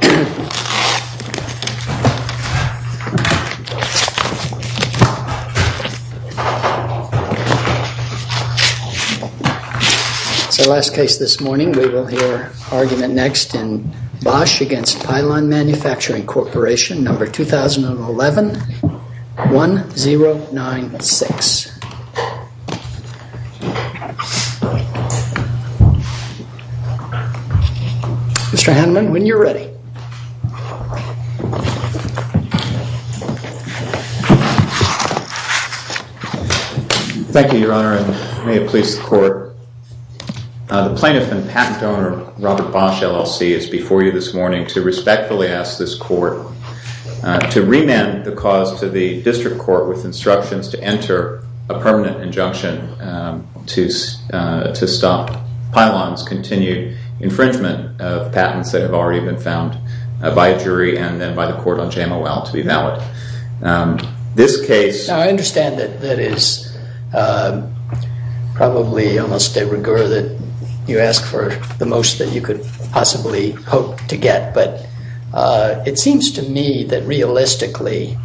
2011-1096 Mr. Hanman, when you're ready. Thank you, Your Honor, and may it please the Court. The plaintiff and patent owner, Robert BOSCH, LLC, is before you this morning to respectfully ask this Court to remand the cause to the District Court with instructions to enter a permanent injunction to stop Pylon's continued infringement of patents that have already been found by a jury and then by the Court on JMOL to be valid. This case- Now, I understand that that is probably almost a rigor that you ask for the most that you could possibly hope to get, but it seems to me that, realistically,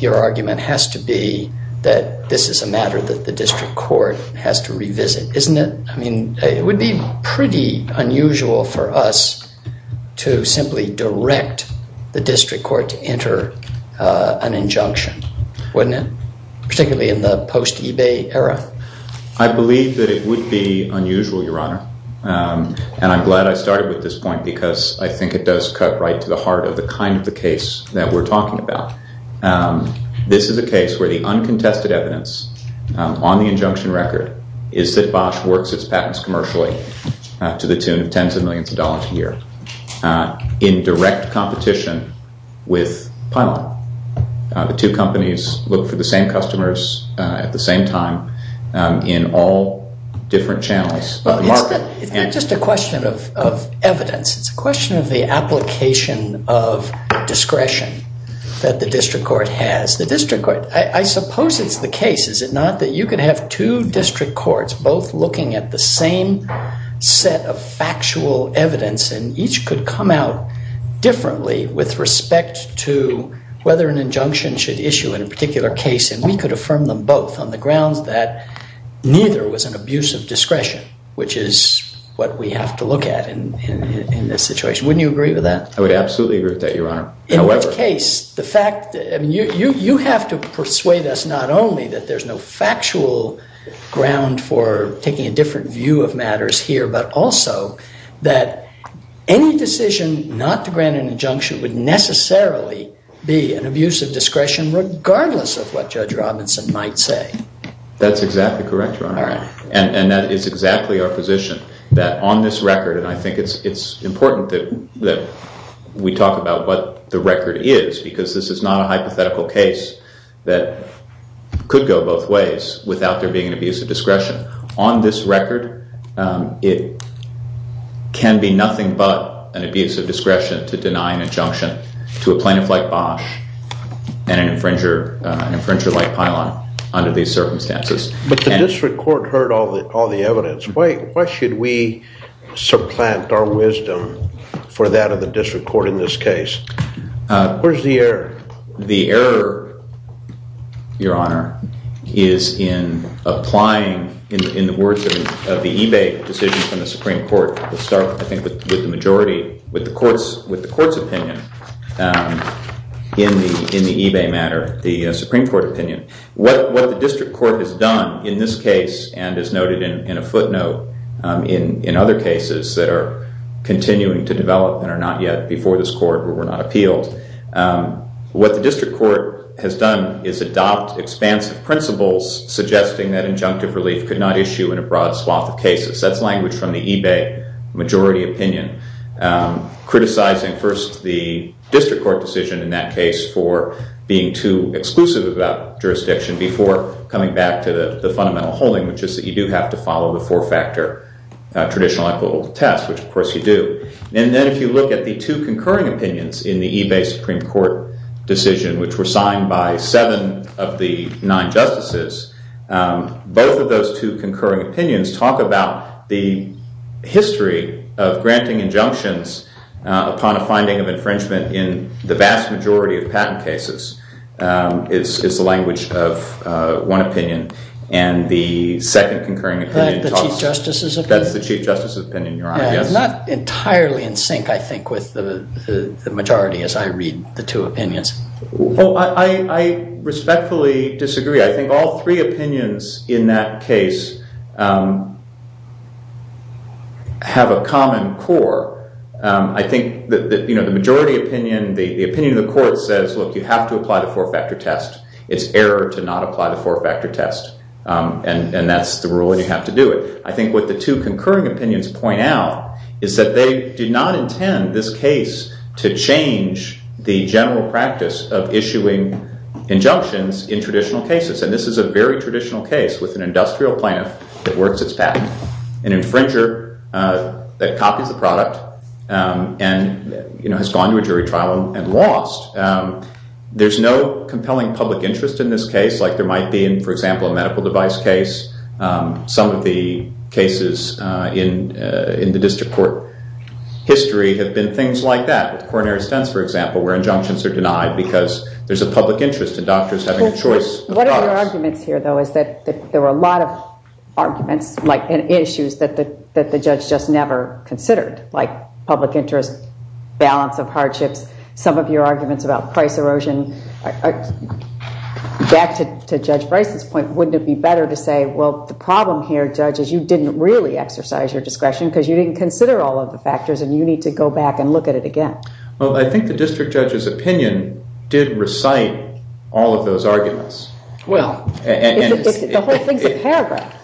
your argument has to be that this is a matter that the District Court has to revisit, isn't it? I mean, it would be pretty unusual for us to simply direct the District Court to enter an injunction, wouldn't it, particularly in the post-eBay era? I believe that it would be unusual, Your Honor, and I'm glad I started with this point because I think it does cut right to the heart of the kind of the case that we're talking about. This is a case where the uncontested evidence on the injunction record is that BOSCH works its patents commercially to the tune of tens of millions of dollars a year in direct competition with Pylon. The two companies look for the same customers at the same time in all different channels of the market. It's not just a question of evidence. It's a question of the application of discretion that the District Court has. The District Court, I suppose it's the case, is it not, that you could have two District Courts both looking at the same set of factual evidence, and each could come out differently with respect to whether an injunction should issue in a particular case, and we could affirm them both on the grounds that neither was an abuse of discretion, which is what we have to look at in this situation. Wouldn't you agree with that? I would absolutely agree with that, Your Honor. However... In which case, the fact... I mean, you have to persuade us not only that there's no factual ground for taking a different view of matters here, but also that any decision not to grant an injunction would necessarily be an abuse of discretion regardless of what Judge Robinson might say. That's exactly correct, Your Honor, and that is exactly our position. That on this record, and I think it's important that we talk about what the record is, because this is not a hypothetical case that could go both ways without there being an abuse of discretion. On this record, it can be nothing but an abuse of discretion to deny an injunction to a plaintiff like Bosch and an infringer like Pilon under these circumstances. But the district court heard all the evidence. Why should we supplant our wisdom for that of the district court in this case? Where's the error? The error, Your Honor, is in applying, in the words of the eBay decision from the Supreme Court, we'll start, I think, with the majority, with the court's opinion in the eBay matter, the Supreme Court opinion. What the district court has done in this case, and as noted in a footnote in other cases that are continuing to develop and are not yet before this court where we're not appealed, what the district court has done is adopt expansive principles suggesting that injunctive relief could not issue in a broad swath of cases. That's language from the eBay majority opinion, criticizing first the district court decision in that case for being too exclusive about jurisdiction before coming back to the fundamental holding, which is that you do have to follow the four-factor traditional equitable test, which of course you do. And then if you look at the two concurring opinions in the eBay Supreme Court decision, which were signed by seven of the nine justices, both of those two concurring opinions talk about the history of granting injunctions upon a finding of infringement in the vast majority of patent cases, is the language of one opinion. And the second concurring opinion talks about the Chief Justice's opinion. That's the Chief Justice's opinion, Your Honor. Not entirely in sync, I think, with the majority as I read the two opinions. I respectfully disagree. I think all three opinions in that case have a common core. I think that the majority opinion, the opinion of the court says, look, you have to apply the four-factor test. It's error to not apply the four-factor test. And that's the rule, and you have to do it. I think what the two concurring opinions point out is that they did not intend this case to change the general practice of issuing injunctions in traditional cases. And this is a very traditional case with an industrial plaintiff that works its patent, an infringer that copies the product and has gone to a jury trial and lost. There's no compelling public interest in this case, like there might be in, for example, a medical device case. Some of the cases in the district court history have been things like that with coronary stents, for example, where injunctions are denied because there's a public interest in doctors having a choice of products. One of your arguments here, though, is that there were a lot of arguments and issues that the judge just never considered, like public interest, balance of hardships. Some of your arguments about price erosion, back to Judge Bryce's point, wouldn't it be better to say, well, the problem here, judge, is you didn't really exercise your discretion because you didn't consider all of the factors, and you need to go back and look at it again. Well, I think the district judge's opinion did recite all of those arguments. Well, the whole thing's a paragraph.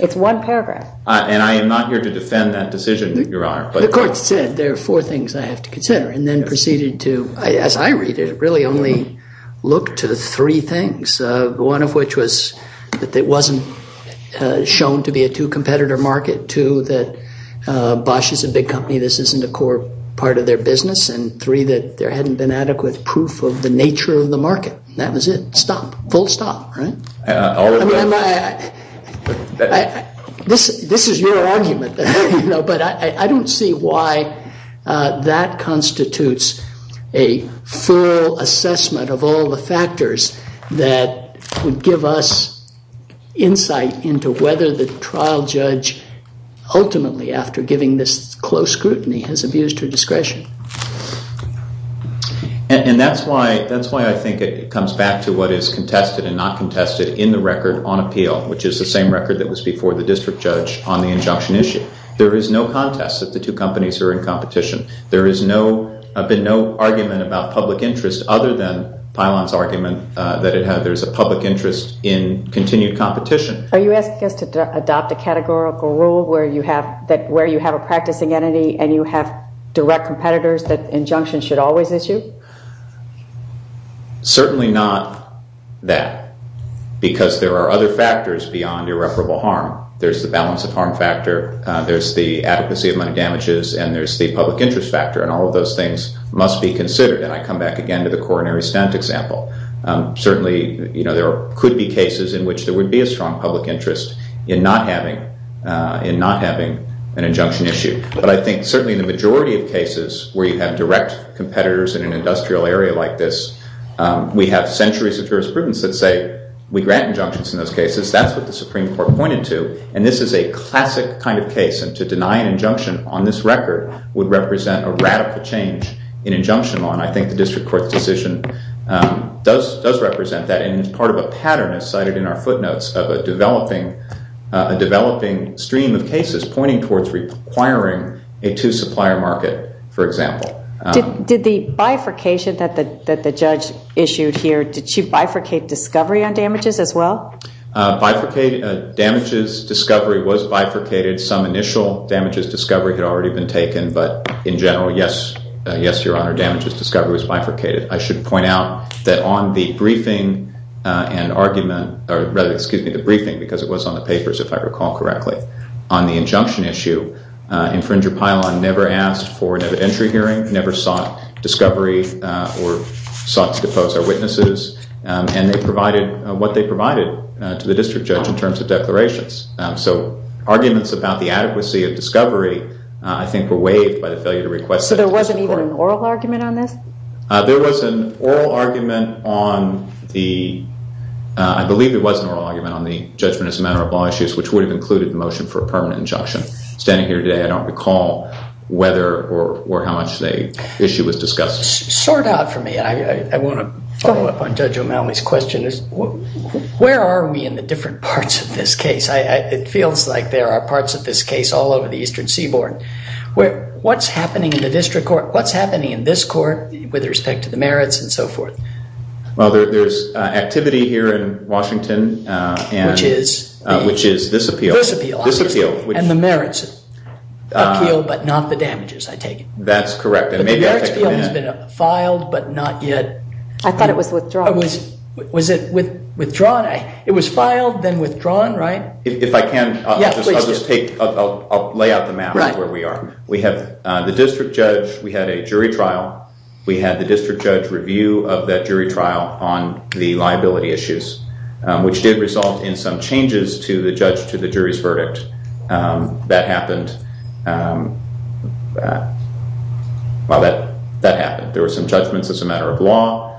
It's one paragraph. And I am not here to defend that decision that you're on. The court said there are four things I have to consider, and then proceeded to, as I read it, really only look to the three things, one of which was that it wasn't shown to be a two-competitor market, two, that Bosch is a big company. This isn't a core part of their business, and three, that there hadn't been adequate proof of the nature of the market. That was it. Stop. Full stop, right? This is your argument, but I don't see why that constitutes a thorough assessment of all the factors that would give us insight into whether the trial judge, ultimately, after giving this close scrutiny, has abused her discretion. And that's why I think it comes back to what is contested and not contested in the record on appeal, which is the same record that was before the district judge on the injunction issue. There is no contest that the two companies are in competition. There has been no argument about public interest other than Pilon's argument that there's a public interest in continued competition. Are you asking us to adopt a categorical rule where you have a practicing entity and you have direct competitors that injunctions should always issue? Certainly not that, because there are other factors beyond irreparable harm. There's the balance of harm factor, there's the adequacy of money damages, and there's the public interest factor. And all of those things must be considered. And I come back again to the coronary stent example. Certainly, there could be cases in which there would be a strong public interest in not having an injunction issue. But I think, certainly, in the majority of cases where you have direct competitors in an industrial area like this, we have centuries of jurisprudence that say, we grant injunctions in those cases. That's what the Supreme Court pointed to. And this is a classic kind of case. And to deny an injunction on this record would represent a radical change in injunction law. And I think the district court's decision does represent that. And it's part of a pattern, as cited in our footnotes, of a developing stream of cases pointing towards requiring a two supplier market, for example. Did the bifurcation that the judge issued here, did she bifurcate discovery on damages as well? Bifurcated? Damages discovery was bifurcated. Some initial damages discovery had already been taken. But in general, yes, your honor, damages discovery was bifurcated. I should point out that on the briefing and argument, or rather, excuse me, the briefing, because it was on the papers, if I recall correctly, on the injunction issue, Infringer Pylon never asked for an evidentiary hearing, never sought discovery or sought to depose our witnesses. And they provided what they provided to the district judge in terms of declarations. So arguments about the adequacy of discovery, I think, were waived by the failure to request it. So there wasn't even an oral argument on this? There was an oral argument on the, I believe it was an oral argument on the judgment as a matter of law issues, which would have included the motion for a permanent injunction. Standing here today, I don't recall whether or how much the issue was discussed. Sort out for me. I want to follow up on Judge O'Malley's question. Where are we in the different parts of this case? It feels like there are parts of this case all over the eastern seaboard. What's happening in the district court? What's happening in this court with respect to the merits and so forth? Well, there's activity here in Washington. Which is? Which is this appeal. This appeal. This appeal. And the merits appeal, but not the damages, I take it. That's correct. The merits appeal has been filed, but not yet. I thought it was withdrawn. Was it withdrawn? It was filed, then withdrawn, right? If I can, I'll just lay out the map of where we are. We have the district judge. We had a jury trial. We had the district judge review of that jury trial on the liability issues, which did result in some changes to the judge to the jury's verdict. That happened. Well, that happened. There were some judgments as a matter of law.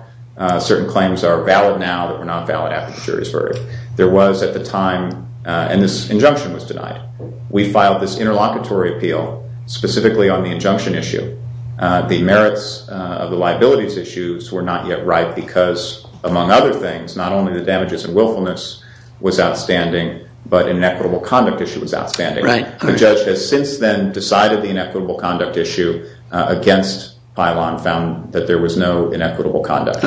Certain claims are valid now that were not valid after the jury's verdict. There was, at the time, and this injunction was denied. We filed this interlocutory appeal specifically on the injunction issue. The merits of the liabilities issues were not yet right because, among other things, not only the damages and willfulness was outstanding, but inequitable conduct issue was outstanding. The judge has since then decided the inequitable conduct issue against bylaw and found that there was no inequitable conduct.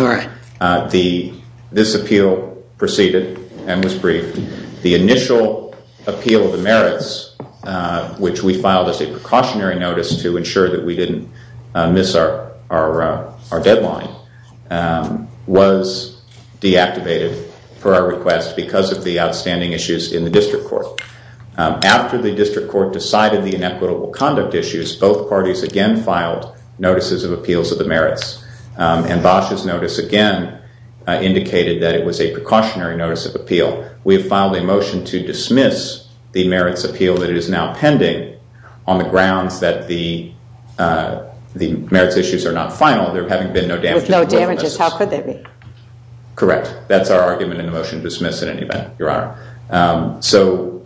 This appeal proceeded and was briefed. The initial appeal of the merits, which we filed as a precautionary notice to ensure that we didn't miss our deadline, was deactivated per our request because of the outstanding issues in the district court. After the district court decided the inequitable conduct issues, both parties again filed notices of appeals of the merits. And Bosh's notice, again, indicated that it was a precautionary notice of appeal. We have filed a motion to dismiss the merits appeal that is now pending on the grounds that the merits issues are not final. There having been no damages. With no damages, how could they be? Correct. That's our argument in the motion to dismiss in any event, Your Honor. So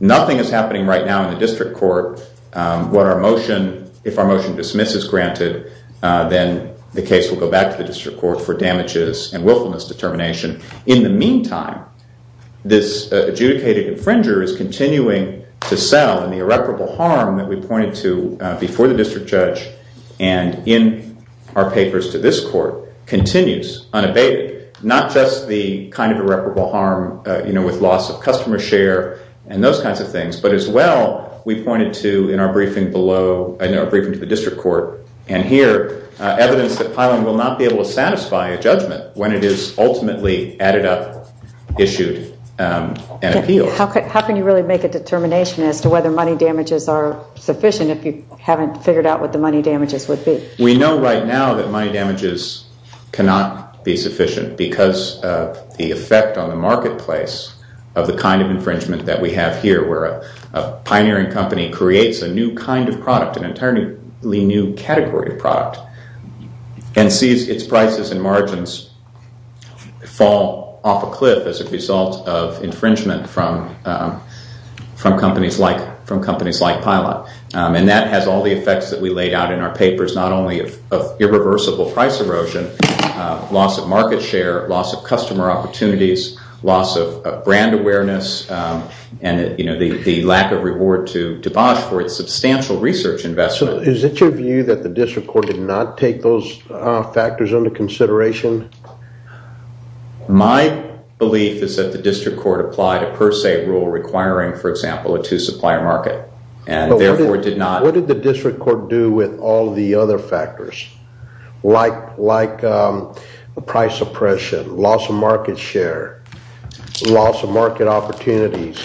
nothing is happening right now in the district court. If our motion to dismiss is granted, then the case will go back to the district court for damages and willfulness determination. In the meantime, this adjudicated infringer is continuing to sell. And the irreparable harm that we pointed to before the district judge and in our papers to this court continues unabated. Not just the kind of irreparable harm with loss of customer share and those kinds of things, but as well, we pointed to in our briefing below, in our briefing to the district court, and here, evidence that Pilon will not be able to satisfy a judgment when it is ultimately added up, issued, and appealed. How can you really make a determination as to whether money damages are sufficient if you haven't figured out what the money damages would be? We know right now that money damages cannot be sufficient because of the effect on the marketplace of the kind of infringement that we have here, where a pioneering company creates a new kind of product, an entirely new category of product, and sees its prices and margins fall off a cliff as a result of infringement from companies like Pilon. And that has all the effects that we laid out in our papers, not only of irreversible price erosion, loss of market share, loss of customer opportunities, loss of brand awareness, and the lack of reward to DeBosch for its substantial research investment. Is it your view that the district court did not take those factors into consideration? My belief is that the district court applied a per se rule requiring, for example, a two supplier market, and therefore did not. What did the district court do with all the other factors, like price oppression, loss of market share, loss of market opportunities?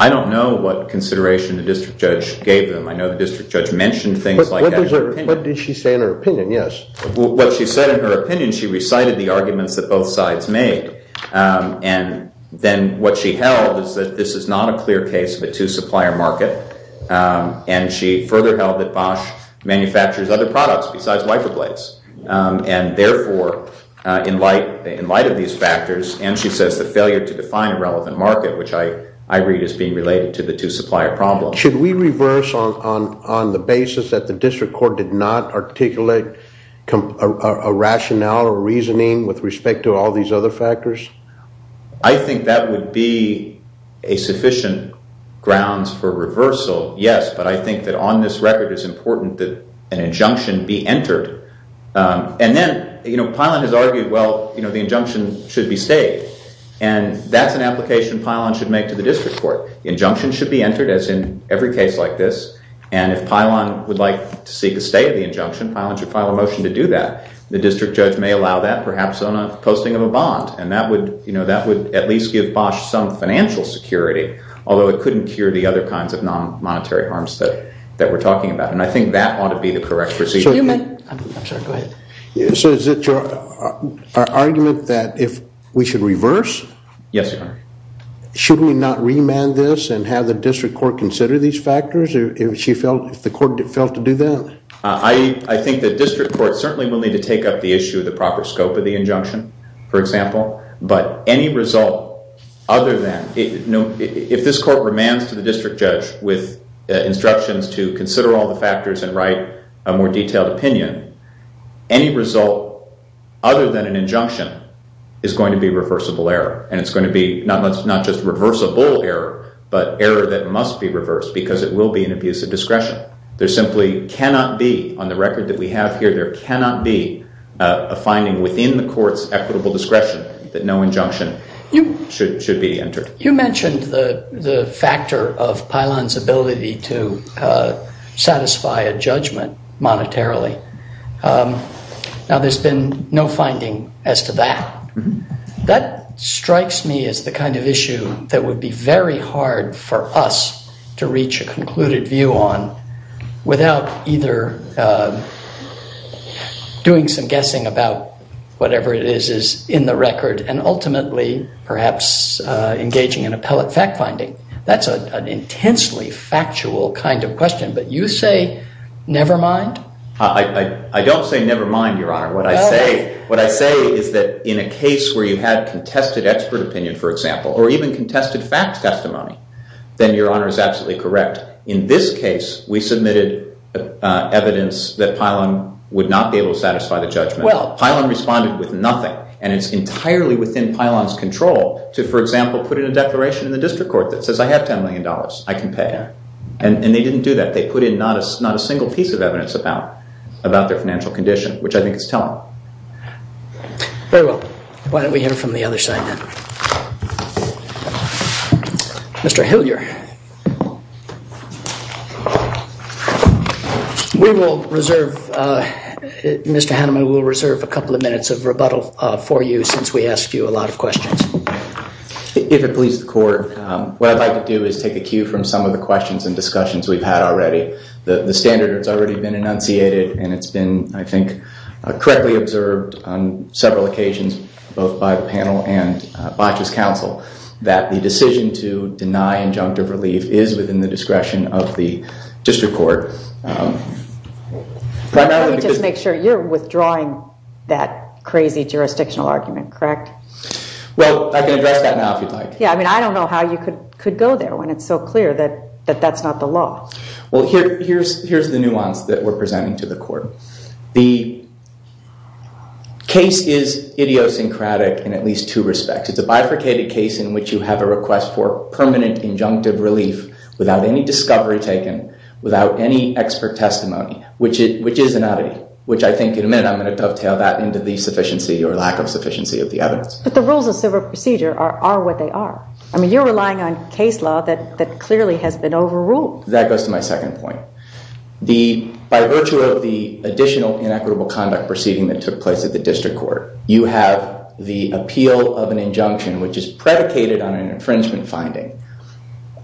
I don't know what consideration the district judge gave them. I know the district judge mentioned things like that. What did she say in her opinion? Yes. What she said in her opinion, she recited the arguments that both sides made. And then what she held is that this is not a clear case of a two supplier market. And she further held that Bosch manufactures other products besides wiper blades. And therefore, in light of these factors, and she says the failure to define a relevant market, which I read as being related to the two supplier problem. Should we reverse on the basis that the district court did not articulate a rationale or reasoning with respect to all these other factors? I think that would be a sufficient grounds for reversal, yes. But I think that on this record, it's important that an injunction be entered. And then Pilon has argued, well, the injunction should be stayed. And that's an application Pilon should make to the district court. Injunction should be entered, as in every case like this. And if Pilon would like to seek a stay of the injunction, Pilon should file a motion to do that. The district judge may allow that, perhaps on a posting of a bond. That would at least give Bosh some financial security, although it couldn't cure the other kinds of non-monetary harms that we're talking about. And I think that ought to be the correct procedure. Excuse me. I'm sorry. Go ahead. So is it your argument that if we should reverse? Yes, Your Honor. Should we not remand this and have the district court consider these factors if the court failed to do that? I think the district court certainly will need to take up the issue of the proper scope of the injunction, for example. But any result other than, if this court remands to the district judge with instructions to consider all the factors and write a more detailed opinion, any result other than an injunction is going to be reversible error. And it's going to be not just reversible error, but error that must be reversed, because it will be an abuse of discretion. There simply cannot be, on the record that we have here, there cannot be a finding within the court's equitable discretion that no injunction should be entered. You mentioned the factor of Pilon's ability to satisfy a judgment monetarily. Now, there's been no finding as to that. That strikes me as the kind of issue that would be very hard for us to reach a concluded view on without either doing some guessing about whatever it is is in the record, and ultimately, perhaps, engaging in appellate fact finding. That's an intensely factual kind of question. But you say, never mind? I don't say never mind, Your Honor. What I say is that in a case where you had contested expert opinion, for example, or even contested fact testimony, then Your Honor is absolutely correct. In this case, we submitted evidence that Pilon would not be able to satisfy the judgment. Pilon responded with nothing, and it's entirely within Pilon's control to, for example, put in a declaration in the district court that says, I have $10 million. I can pay. And they didn't do that. They put in not a single piece of evidence about their financial condition, which I think is telling. Very well. Why don't we hear from the other side, then? Mr. Hillier, we will reserve, Mr. Hanneman, we'll reserve a couple of minutes of rebuttal for you since we asked you a lot of questions. If it pleases the court, what I'd like to do is take a cue from some of the questions and discussions we've had already. The standard has already been enunciated, and it's been, I think, correctly observed on several occasions, both by the panel and Botch's counsel, that the decision to deny injunctive relief is within the discretion of the district court, primarily because- Let me just make sure, you're withdrawing that crazy jurisdictional argument, correct? Well, I can address that now, if you'd like. Yeah, I mean, I don't know how you could go there when it's so clear that that's not the law. Well, here's the nuance that we're presenting to the court. The case is idiosyncratic in at least two respects. It's a bifurcated case in which you have a request for permanent injunctive relief without any discovery taken, without any expert testimony, which is an oddity, which I think in a minute I'm going to dovetail that into the sufficiency or lack of sufficiency of the evidence. But the rules of civil procedure are what they are. I mean, you're relying on case law that clearly has been overruled. That goes to my second point. By virtue of the additional inequitable conduct proceeding that took place at the district court, you have the appeal of an injunction, which is predicated on an infringement finding,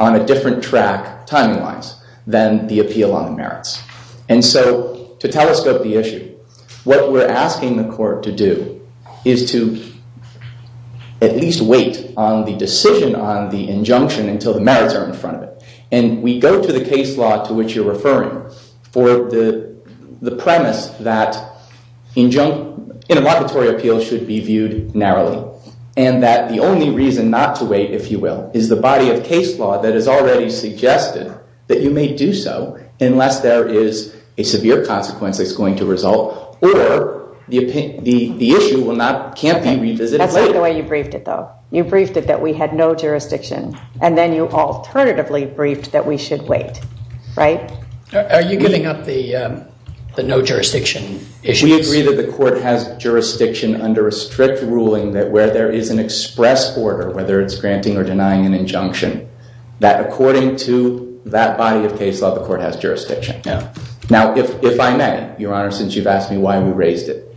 on a different track, timing-wise, than the appeal on the merits. And so to telescope the issue, what we're asking the court to do is to at least wait on the decision on the injunction until the merits are in front of it. And we go to the case law to which you're referring for the premise that intermocketory appeals should be viewed narrowly, and that the only reason not to wait, if you will, is the body of case law that has already suggested that you may do so unless there is a severe consequence that's going to result, or the issue can't be revisited later. That's not the way you briefed it, though. You briefed it that we had no jurisdiction. And then you alternatively briefed that we should wait. Right? Are you giving up the no jurisdiction issue? We agree that the court has jurisdiction under a strict ruling that where there is an express order, whether it's granting or denying an injunction, that according to that body of case law, the court has jurisdiction. Now, if I may, Your Honor, since you've asked me why we raised it,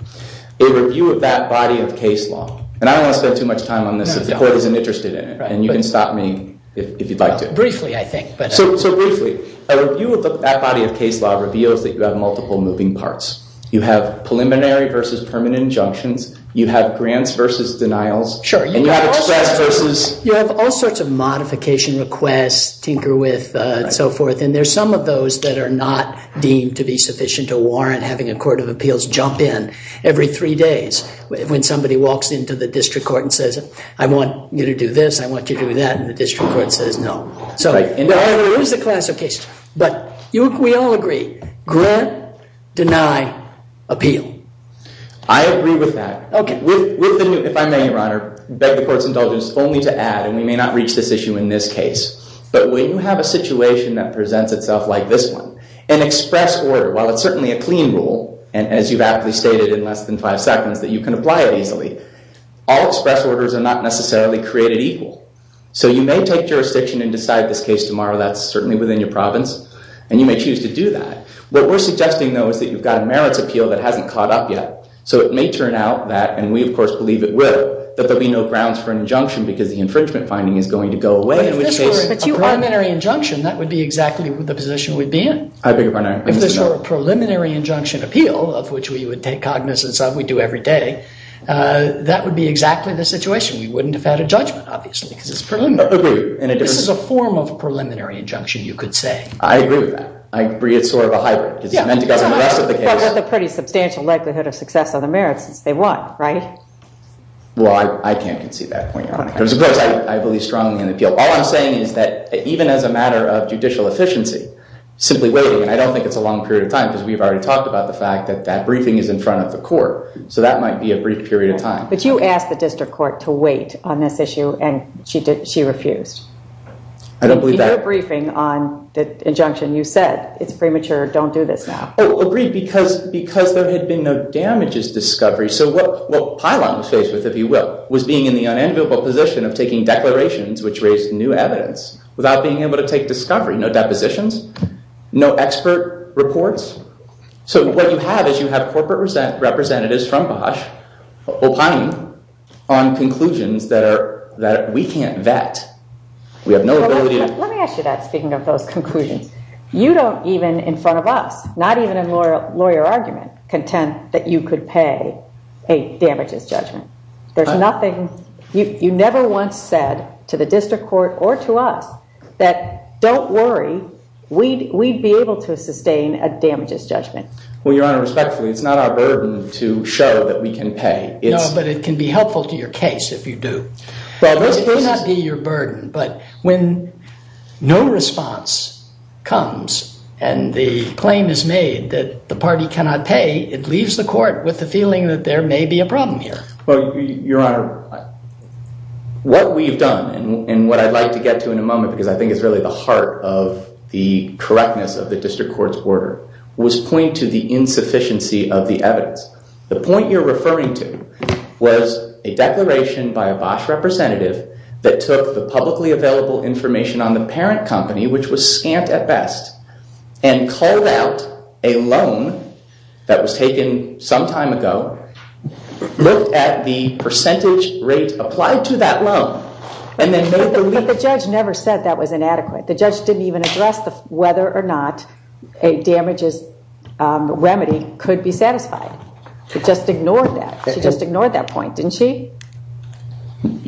a review of that body of case law, and I don't want to spend too much time on this, if the court isn't interested in it. And you can stop me if you'd like to. Briefly, I think. So briefly, a review of that body of case law reveals that you have multiple moving parts. You have preliminary versus permanent injunctions. You have grants versus denials. Sure. And you have express versus. You have all sorts of modification requests, tinker with, and so forth. And there's some of those that are not deemed to be sufficient to warrant having a court of appeals jump in every three days when somebody walks into the district court and says, I want you to do this, I want you to do that, and the district court says no. So there is a class of cases. But we all agree. Grant, deny, appeal. I agree with that. If I may, Your Honor, I beg the court's indulgence only to add, and we may not reach this issue in this case, but when you have a situation that presents itself like this one, an express order, while it's certainly a clean rule, and as you've aptly stated in less than five seconds, that you can apply it easily. All express orders are not necessarily created equal. So you may take jurisdiction and decide this case tomorrow. That's certainly within your province. And you may choose to do that. What we're suggesting, though, is that you've got a merits appeal that hasn't caught up yet. So it may turn out that, and we, of course, believe it will, that there'll be no grounds for an injunction because the infringement finding is going to go away, in which case, a primary. If it's your preliminary injunction, that would be exactly the position we'd be in. I beg your pardon, Your Honor, I didn't mean to interrupt. If this were a preliminary injunction appeal, of which we would take cognizance of, we do every day, that would be exactly the situation. We wouldn't have had a judgment, obviously, because it's preliminary. I agree. And it is a form of preliminary injunction, you could say. I agree with that. I agree it's sort of a hybrid. Because it's meant to govern the rest of the case. But with a pretty substantial likelihood of success on the merits, they won, right? Well, I can't concede that point, Your Honor. Of course, I believe strongly in appeal. All I'm saying is that, even as a matter of judicial efficiency, simply waiting, and I don't think it's a long period of time, because we've already talked about the fact that that briefing is in front of the court. So that might be a brief period of time. But you asked the district court to wait on this issue, and she refused. I don't believe that. In your briefing on the injunction, you said it's premature, don't do this now. Oh, agreed, because there had been no damages discovery. So what Pilon was faced with, if you will, was being in the unenviable position of taking declarations which raised new evidence, without being able to take discovery. No depositions, no expert reports. So what you have is you have corporate representatives from Bosch opining on conclusions that we can't vet. We have no ability to. Let me ask you that, speaking of those conclusions. You don't even, in front of us, not even in lawyer argument, contend that you could pay a damages judgment. There's nothing. You never once said, to the district court or to us, that don't worry, we'd be able to sustain a damages judgment. Well, Your Honor, respectfully, it's not our burden to show that we can pay. No, but it can be helpful to your case if you do. Well, this may not be your burden, but when no response comes, and the claim is made that the party cannot pay, it leaves the court with the feeling that there may be a problem here. Well, Your Honor, what we've done, and what I'd like to get to in a moment, because I think it's really the heart of the correctness of the district court's order, was point to the insufficiency of the evidence. The point you're referring to was a declaration by a Bosch representative that took the publicly available information on the parent company, which was scant at best, and called out a loan that was taken some time ago, looked at the percentage rate applied to that loan, and then made the leap. But the judge never said that was inadequate. The judge didn't even address whether or not a damages remedy could be satisfied. She just ignored that. She just ignored that point, didn't she?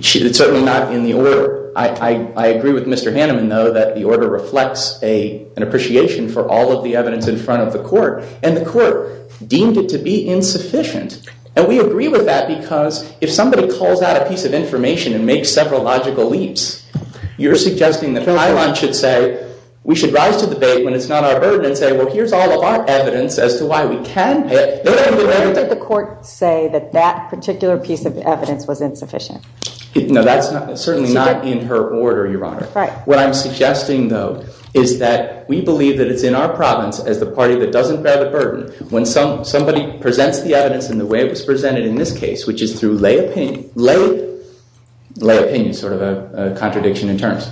Certainly not in the order. I agree with Mr. Haneman, though, that the order reflects an appreciation for all of the evidence in front of the court, and the court deemed it to be insufficient. And we agree with that, because if somebody calls out a piece of information and makes several logical leaps, you're suggesting that Highline should say, we should rise to the bait when it's not our burden, and say, well, here's all of our evidence as to why we can't. No, no, no, no. Why did the court say that that particular piece of evidence was insufficient? No, that's certainly not in her order, Your Honor. What I'm suggesting, though, is that we believe that it's in our province, as the party that doesn't bear the burden, when somebody presents the evidence in the way it was presented in this case, which is through lay opinion, sort of a contradiction in terms,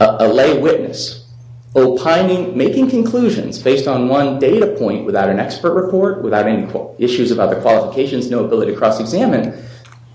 a lay witness, opining, making conclusions based on one data point without an expert report, without any issues about the qualifications, no ability to cross-examine,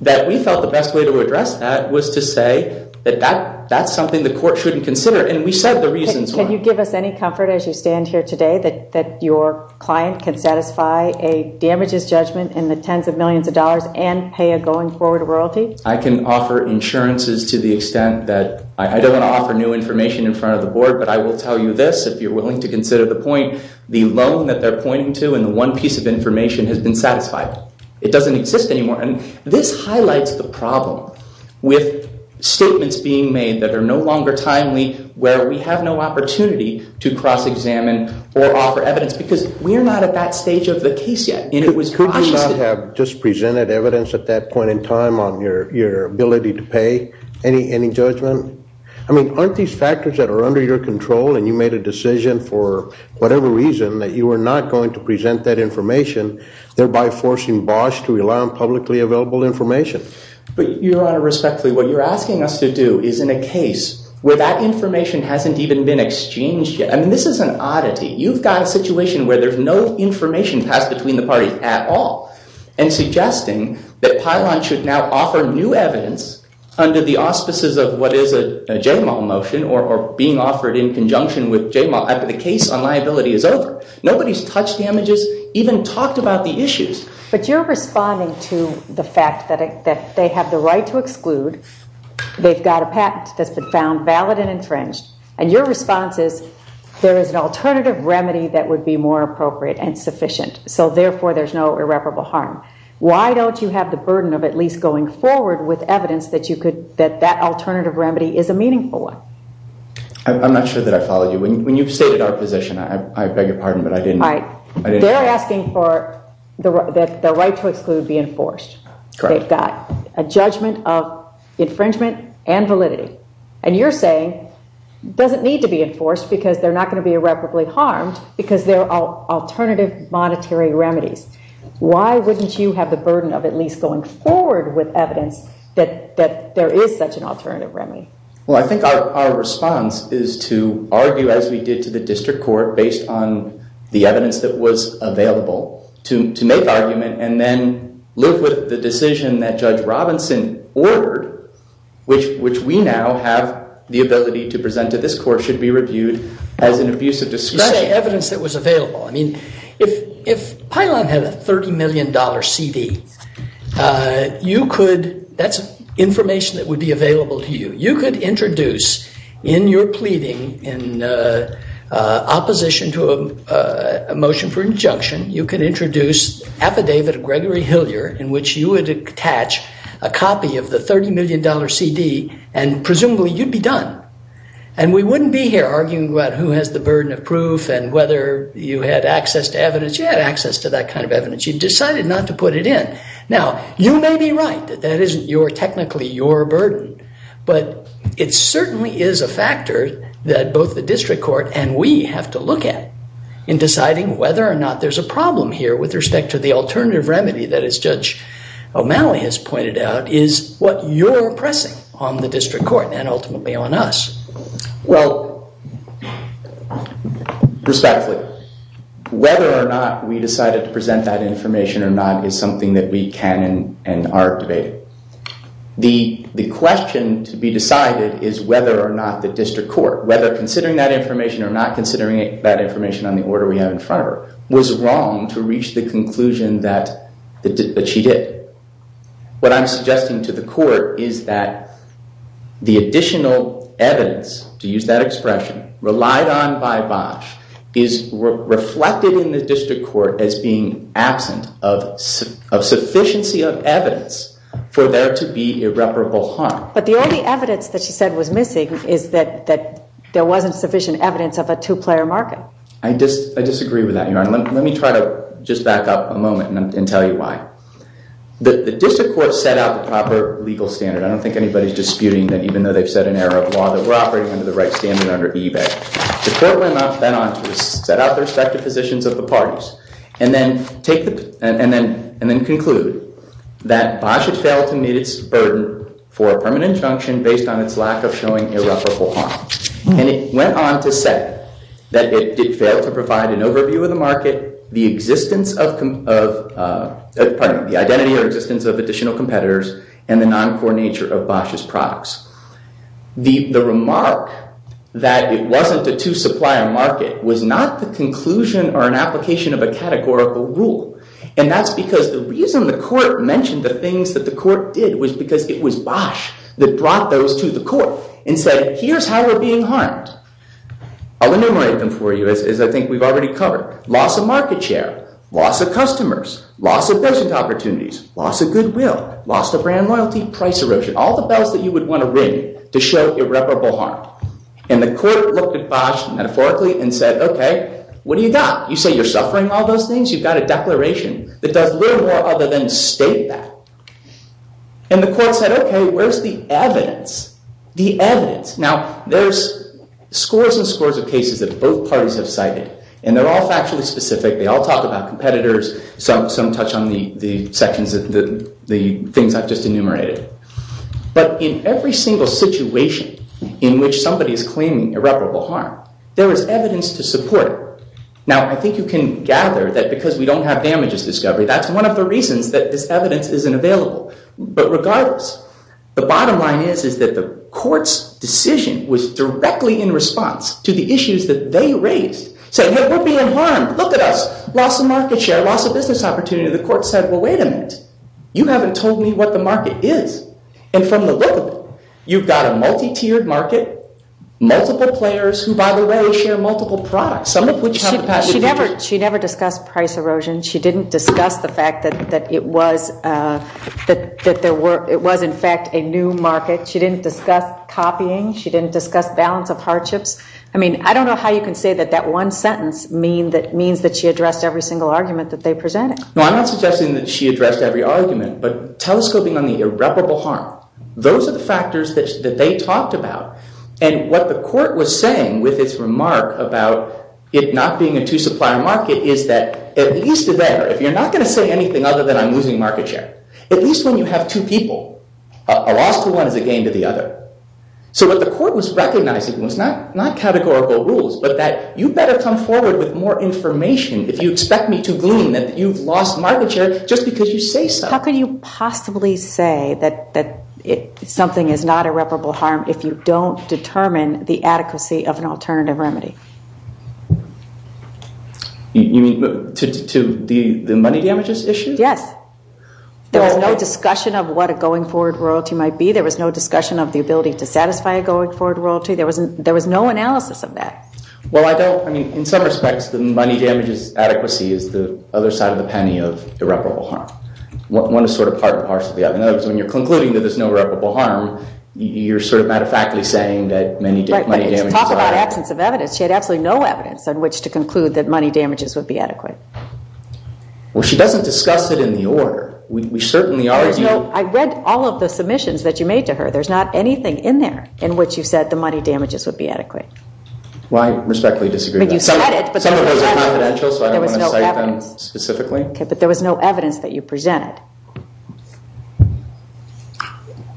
that we felt the best way to address that was to say that that's something the court shouldn't consider. And we said the reasons were. Can you give us any comfort, as you stand here today, that your client can satisfy a damages judgment in the tens of millions of dollars and pay a going forward royalty? I can offer insurances to the extent that I don't want to offer new information in front of the board, but I will tell you this, if you're willing to consider the point, the loan that they're pointing to and the one piece of information has been satisfied. It doesn't exist anymore. And this highlights the problem with statements being made that are no longer timely, where we have no opportunity to cross-examine or offer evidence, because we are not at that stage of the case yet. And it was cautious. Did you not have just presented evidence at that point in time on your ability to pay any judgment? I mean, aren't these factors that are under your control and you made a decision for whatever reason that you were not going to present that information, thereby forcing Bosch to rely on publicly available information? But Your Honor, respectfully, what you're asking us to do is in a case where that information hasn't even been exchanged yet. I mean, this is an oddity. You've got a situation where there's no information passed between the parties at all, and suggesting that Pilon should now offer new evidence under the auspices of what is a J-MAL motion or being offered in conjunction with J-MAL after the case on liability is over. Nobody's touched the images, even talked about the issues. But you're responding to the fact that they have the right to exclude. They've got a patent that's been found valid and infringed. And your response is, there is an alternative remedy that would be more appropriate and sufficient. So therefore, there's no irreparable harm. Why don't you have the burden of at least going forward with evidence that that alternative remedy is a meaningful one? I'm not sure that I followed you. When you've stated our position, I beg your pardon, but I didn't know. They're asking for the right to exclude be enforced. They've got a judgment of infringement and validity. And you're saying, doesn't need to be enforced, because they're not going to be irreparably harmed, because there are alternative monetary remedies. Why wouldn't you have the burden of at least going forward with evidence that there is such an alternative remedy? Well, I think our response is to argue, as we did to the district court based on the evidence that was available, to make argument and then live with the decision that Judge Robinson ordered, which we now have the ability to present to this court, which should be reviewed as an abusive discussion. That's the evidence that was available. I mean, if Pilon had a $30 million CD, you could, that's information that would be available to you. You could introduce in your pleading in opposition to a motion for injunction, you could introduce affidavit of Gregory Hillier, in which you would attach a copy of the $30 million CD, and presumably you'd be done. And we wouldn't be here arguing about who has the burden of proof and whether you had access to evidence. You had access to that kind of evidence. You decided not to put it in. Now, you may be right that that isn't technically your burden, but it certainly is a factor that both the district court and we have to look at in deciding whether or not there's a problem here with respect to the alternative remedy that, as Judge O'Malley has pointed out, is what you're pressing on the district court and ultimately on us. Well, respectfully, whether or not we decided to present that information or not is something that we can and are debating. The question to be decided is whether or not the district court, whether considering that information or not considering that information on the order we have in front of her, was wrong to reach the conclusion that she did. What I'm suggesting to the court is that the additional evidence, to use that expression, relied on by Bosch is reflected in the district court as being absent of sufficiency of evidence for there to be irreparable harm. But the only evidence that she said was missing is that there wasn't sufficient evidence of a two-player market. I disagree with that, Your Honor. Let me try to just back up a moment and tell you why. The district court set out the proper legal standard. I don't think anybody's disputing that, even though they've set an error of law, that we're operating under the right standard under eBay. The court went on to set out the respective positions of the parties and then conclude that Bosch had failed to meet its burden for a permanent injunction based on its lack of showing irreparable harm. And it went on to say that it failed to provide an overview of the identity or existence of additional competitors and the non-core nature of Bosch's products. The remark that it wasn't a two-supplier market was not the conclusion or an application of a categorical rule. And that's because the reason the court mentioned the things that the court did was because it was Bosch that brought those to the court and said, here's how we're being harmed. I'll enumerate them for you, as I think we've already covered. Loss of market share, loss of customers, loss of business opportunities, loss of goodwill, loss of brand loyalty, price erosion, all the bells that you would want to ring to show irreparable harm. And the court looked at Bosch metaphorically and said, OK, what do you got? You say you're suffering all those things. You've got a declaration that does little more other than state that. And the court said, OK, where's the evidence? The evidence. Now, there's scores and scores of cases that both parties have cited. And they're all factually specific. They all talk about competitors. Some touch on the things I've just enumerated. But in every single situation in which somebody is claiming irreparable harm, there is evidence to support. Now, I think you can gather that because we don't have damages discovery, that's one of the reasons that this evidence isn't available. But regardless, the bottom line is that the court's decision was directly in response to the issues that they raised, saying, hey, we're being harmed. Look at us. Loss of market share, loss of business opportunity. The court said, well, wait a minute. You haven't told me what the market is. And from the look of it, you've got a multi-tiered market, multiple players who, by the way, share multiple products, some of which have the past and future. She never discussed price erosion. She didn't discuss the fact that it was, in fact, a new market. She didn't discuss copying. She didn't discuss balance of hardships. I mean, I don't know how you can say that that one sentence means that she addressed every single argument that they presented. No, I'm not suggesting that she addressed every argument. But telescoping on the irreparable harm, those are the factors that they talked about. And what the court was saying with its remark about it not being a two supplier market is that at least there, if you're not going to say anything other than I'm losing market share, at least when you have two people, a loss to one is a gain to the other. So what the court was recognizing was not categorical rules, but that you better come forward with more information if you expect me to glean that you've lost market share just because you say so. How could you possibly say that something is not irreparable harm if you don't determine the adequacy of an alternative remedy? You mean to the money damages issue? Yes. There was no discussion of what a going forward royalty might be. There was no discussion of the ability to satisfy a going forward royalty. There was no analysis of that. Well, I don't. I mean, in some respects, the money damages adequacy is the other side of the penny of irreparable harm. One is sort of part and parcel of the other. In other words, when you're concluding that there's no irreparable harm, you're sort of matter of factly saying that money damages are. she had absolutely no evidence on which to conclude that money damages would be adequate. Well, she doesn't discuss it in the order. We certainly argue. I read all of the submissions that you made to her. There's not anything in there in which you said the money damages would be adequate. Well, I respectfully disagree. But you said it. Some of those are confidential, so I don't want to cite them specifically. But there was no evidence that you presented.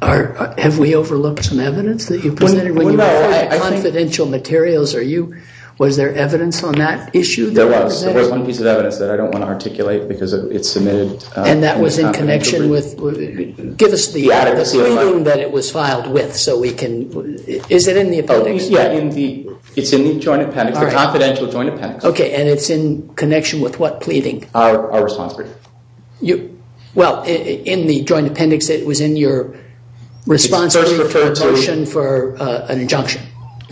Have we overlooked some evidence that you presented? When you refer to confidential materials, are you, was there evidence on that issue? There was. There was one piece of evidence that I don't want to articulate because it's submitted. And that was in connection with, give us the pleading that it was filed with so we can, is it in the appendix? It's in the joint appendix, the confidential joint appendix. OK, and it's in connection with what pleading? Our response brief. Well, in the joint appendix, it was in your response brief to a motion for an injunction.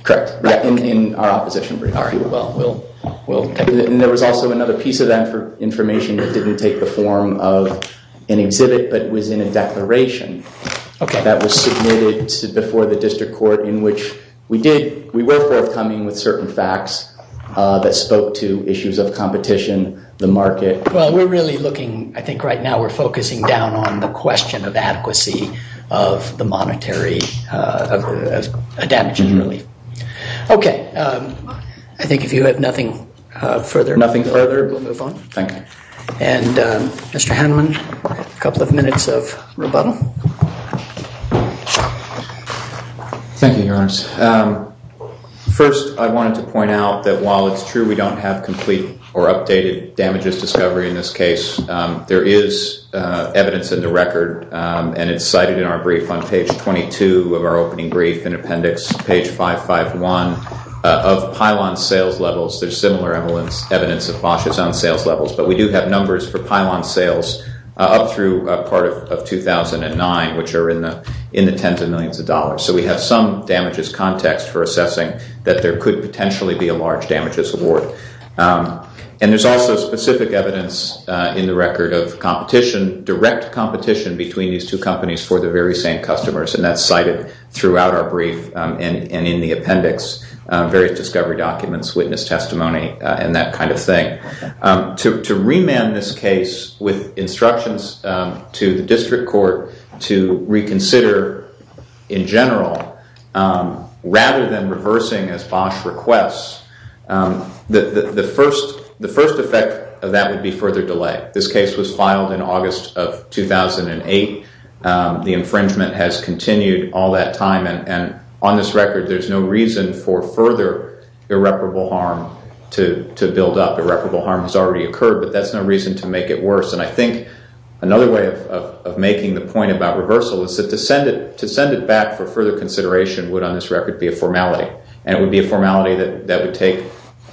Correct, in our opposition brief. All right, well, we'll take it. And there was also another piece of that information that didn't take the form of an exhibit, but was in a declaration that was submitted before the district court in which we did, we were forthcoming with certain facts that spoke to issues of competition, the market. Well, we're really looking, I think right now we're focusing down on the question of adequacy of the monetary damages relief. OK, I think if you have nothing further, we'll move on. Thank you. And Mr. Haneman, a couple of minutes of rebuttal. Thank you, Your Honor. First, I wanted to point out that while it's true we don't have complete or updated damages discovery in this case, there is evidence in the record. And it's cited in our brief on page 22 of our opening brief in appendix page 551 of pylon sales levels. There's similar evidence of Bosh's on sales levels, but we do have numbers for pylon sales up through a part of 2009, which are in the tens of millions of dollars. So we have some damages context for assessing that there could potentially be a large damages award. And there's also specific evidence in the record of competition, direct competition between these two companies for the very same customers. And that's cited throughout our brief and in the appendix, various discovery documents, witness testimony, and that kind of thing. To remand this case with instructions to the district court to reconsider in general, rather than reversing as Bosh requests, the first effect of that would be further delay. This case was filed in August of 2008. The infringement has continued all that time. And on this record, there's no reason for further irreparable harm to build up. Irreparable harm has already occurred, but that's no reason to make it worse. And I think another way of making the point about reversal is that to send it back for further consideration would, on this record, be a formality. And it would be a formality that would take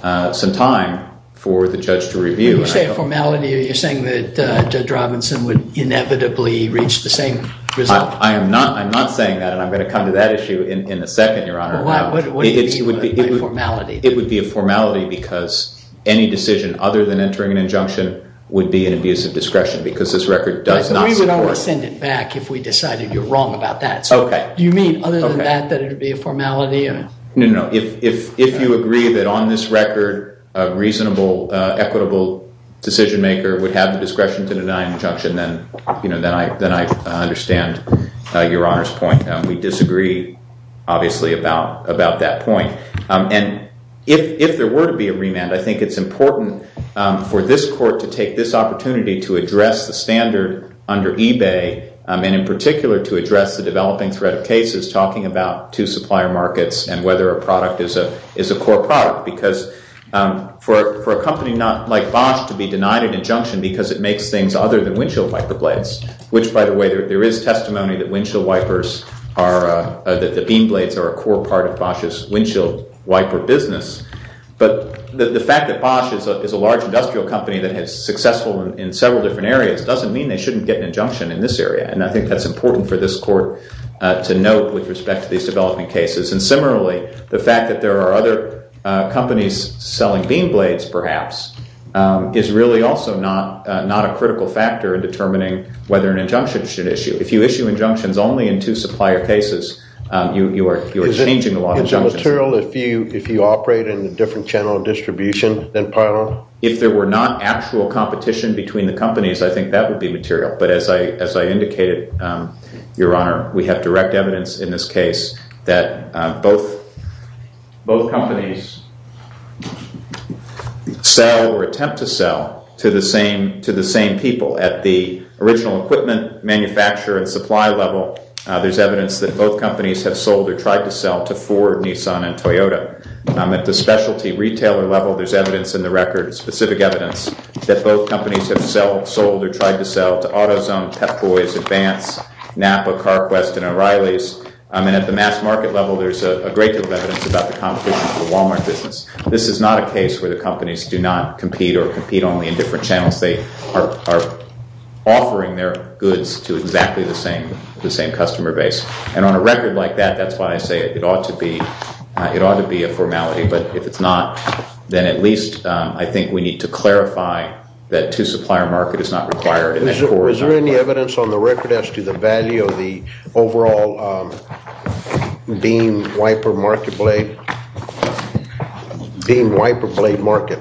some time for the judge to review. When you say a formality, you're saying that Judge Robinson would inevitably reach the same result? I am not saying that, and I'm going to come to that issue in a second, Your Honor. What would it be, a formality? It would be a formality, because any decision other than entering an injunction would be an abuse of discretion, because this record does not support it. We would only send it back if we decided you're wrong about that. OK. Do you mean, other than that, that it would be a formality? No, no, no. If you agree that, on this record, a reasonable, equitable decision maker would have the discretion to deny an injunction, then I understand Your Honor's point. We disagree, obviously, about that point. And if there were to be a remand, I think it's important for this court to take this opportunity to address the standard under eBay, and in particular, to address the developing threat of cases, talking about two supplier markets and whether a product is a core product. Because for a company like Bosch to be an injunction, because it makes things other than windshield wiper blades, which, by the way, there is testimony that the beam blades are a core part of Bosch's windshield wiper business. But the fact that Bosch is a large industrial company that is successful in several different areas doesn't mean they shouldn't get an injunction in this area. And I think that's important for this court to note with respect to these development cases. And similarly, the fact that there are other companies selling beam blades, perhaps, is really also not a critical factor in determining whether an injunction should issue. If you issue injunctions only in two supplier cases, you are changing a lot of injunctions. Is it material if you operate in a different channel of distribution than Pylon? If there were not actual competition between the companies, I think that would be material. But as I indicated, Your Honor, we have direct evidence in this case that both companies sell or attempt to sell to the same people. At the original equipment manufacturer and supply level, there's evidence that both companies have sold or tried to sell to Ford, Nissan, and Toyota. At the specialty retailer level, there's evidence in the record, specific evidence, that both companies have sold or tried to sell to AutoZone, Pep Boys, Advance, NAPA, CarQuest, and O'Reilly's. And at the mass market level, there's a great deal of evidence about the competition for the Walmart business. This is not a case where the companies do not compete or compete only in different channels. They are offering their goods to exactly the same customer base. And on a record like that, that's why I say it ought to be a formality. But if it's not, then at least I think we need to clarify that two supplier market is not required in that four or five. Is there any evidence on the record as to the value of the overall beam wiper blade market?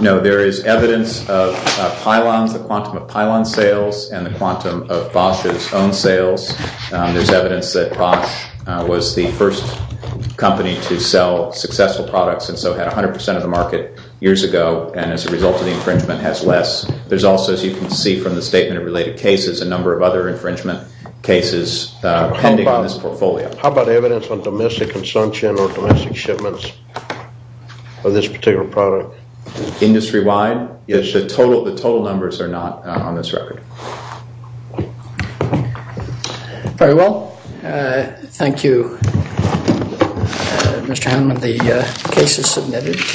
No, there is evidence of Pylons, the quantum of Pylons sales, and the quantum of Bosch's own sales. There's evidence that Bosch was the first company to sell successful products, and so had 100% of the market years ago. And as a result of the infringement, has less. There's also, as you can see from the statement of related cases, a number of other infringement cases pending on this portfolio. How about evidence on domestic consumption or domestic shipments of this particular product? Industry-wide? Yes, the total numbers are not on this record. Very well. Thank you, Mr. Hammond. The case is submitted.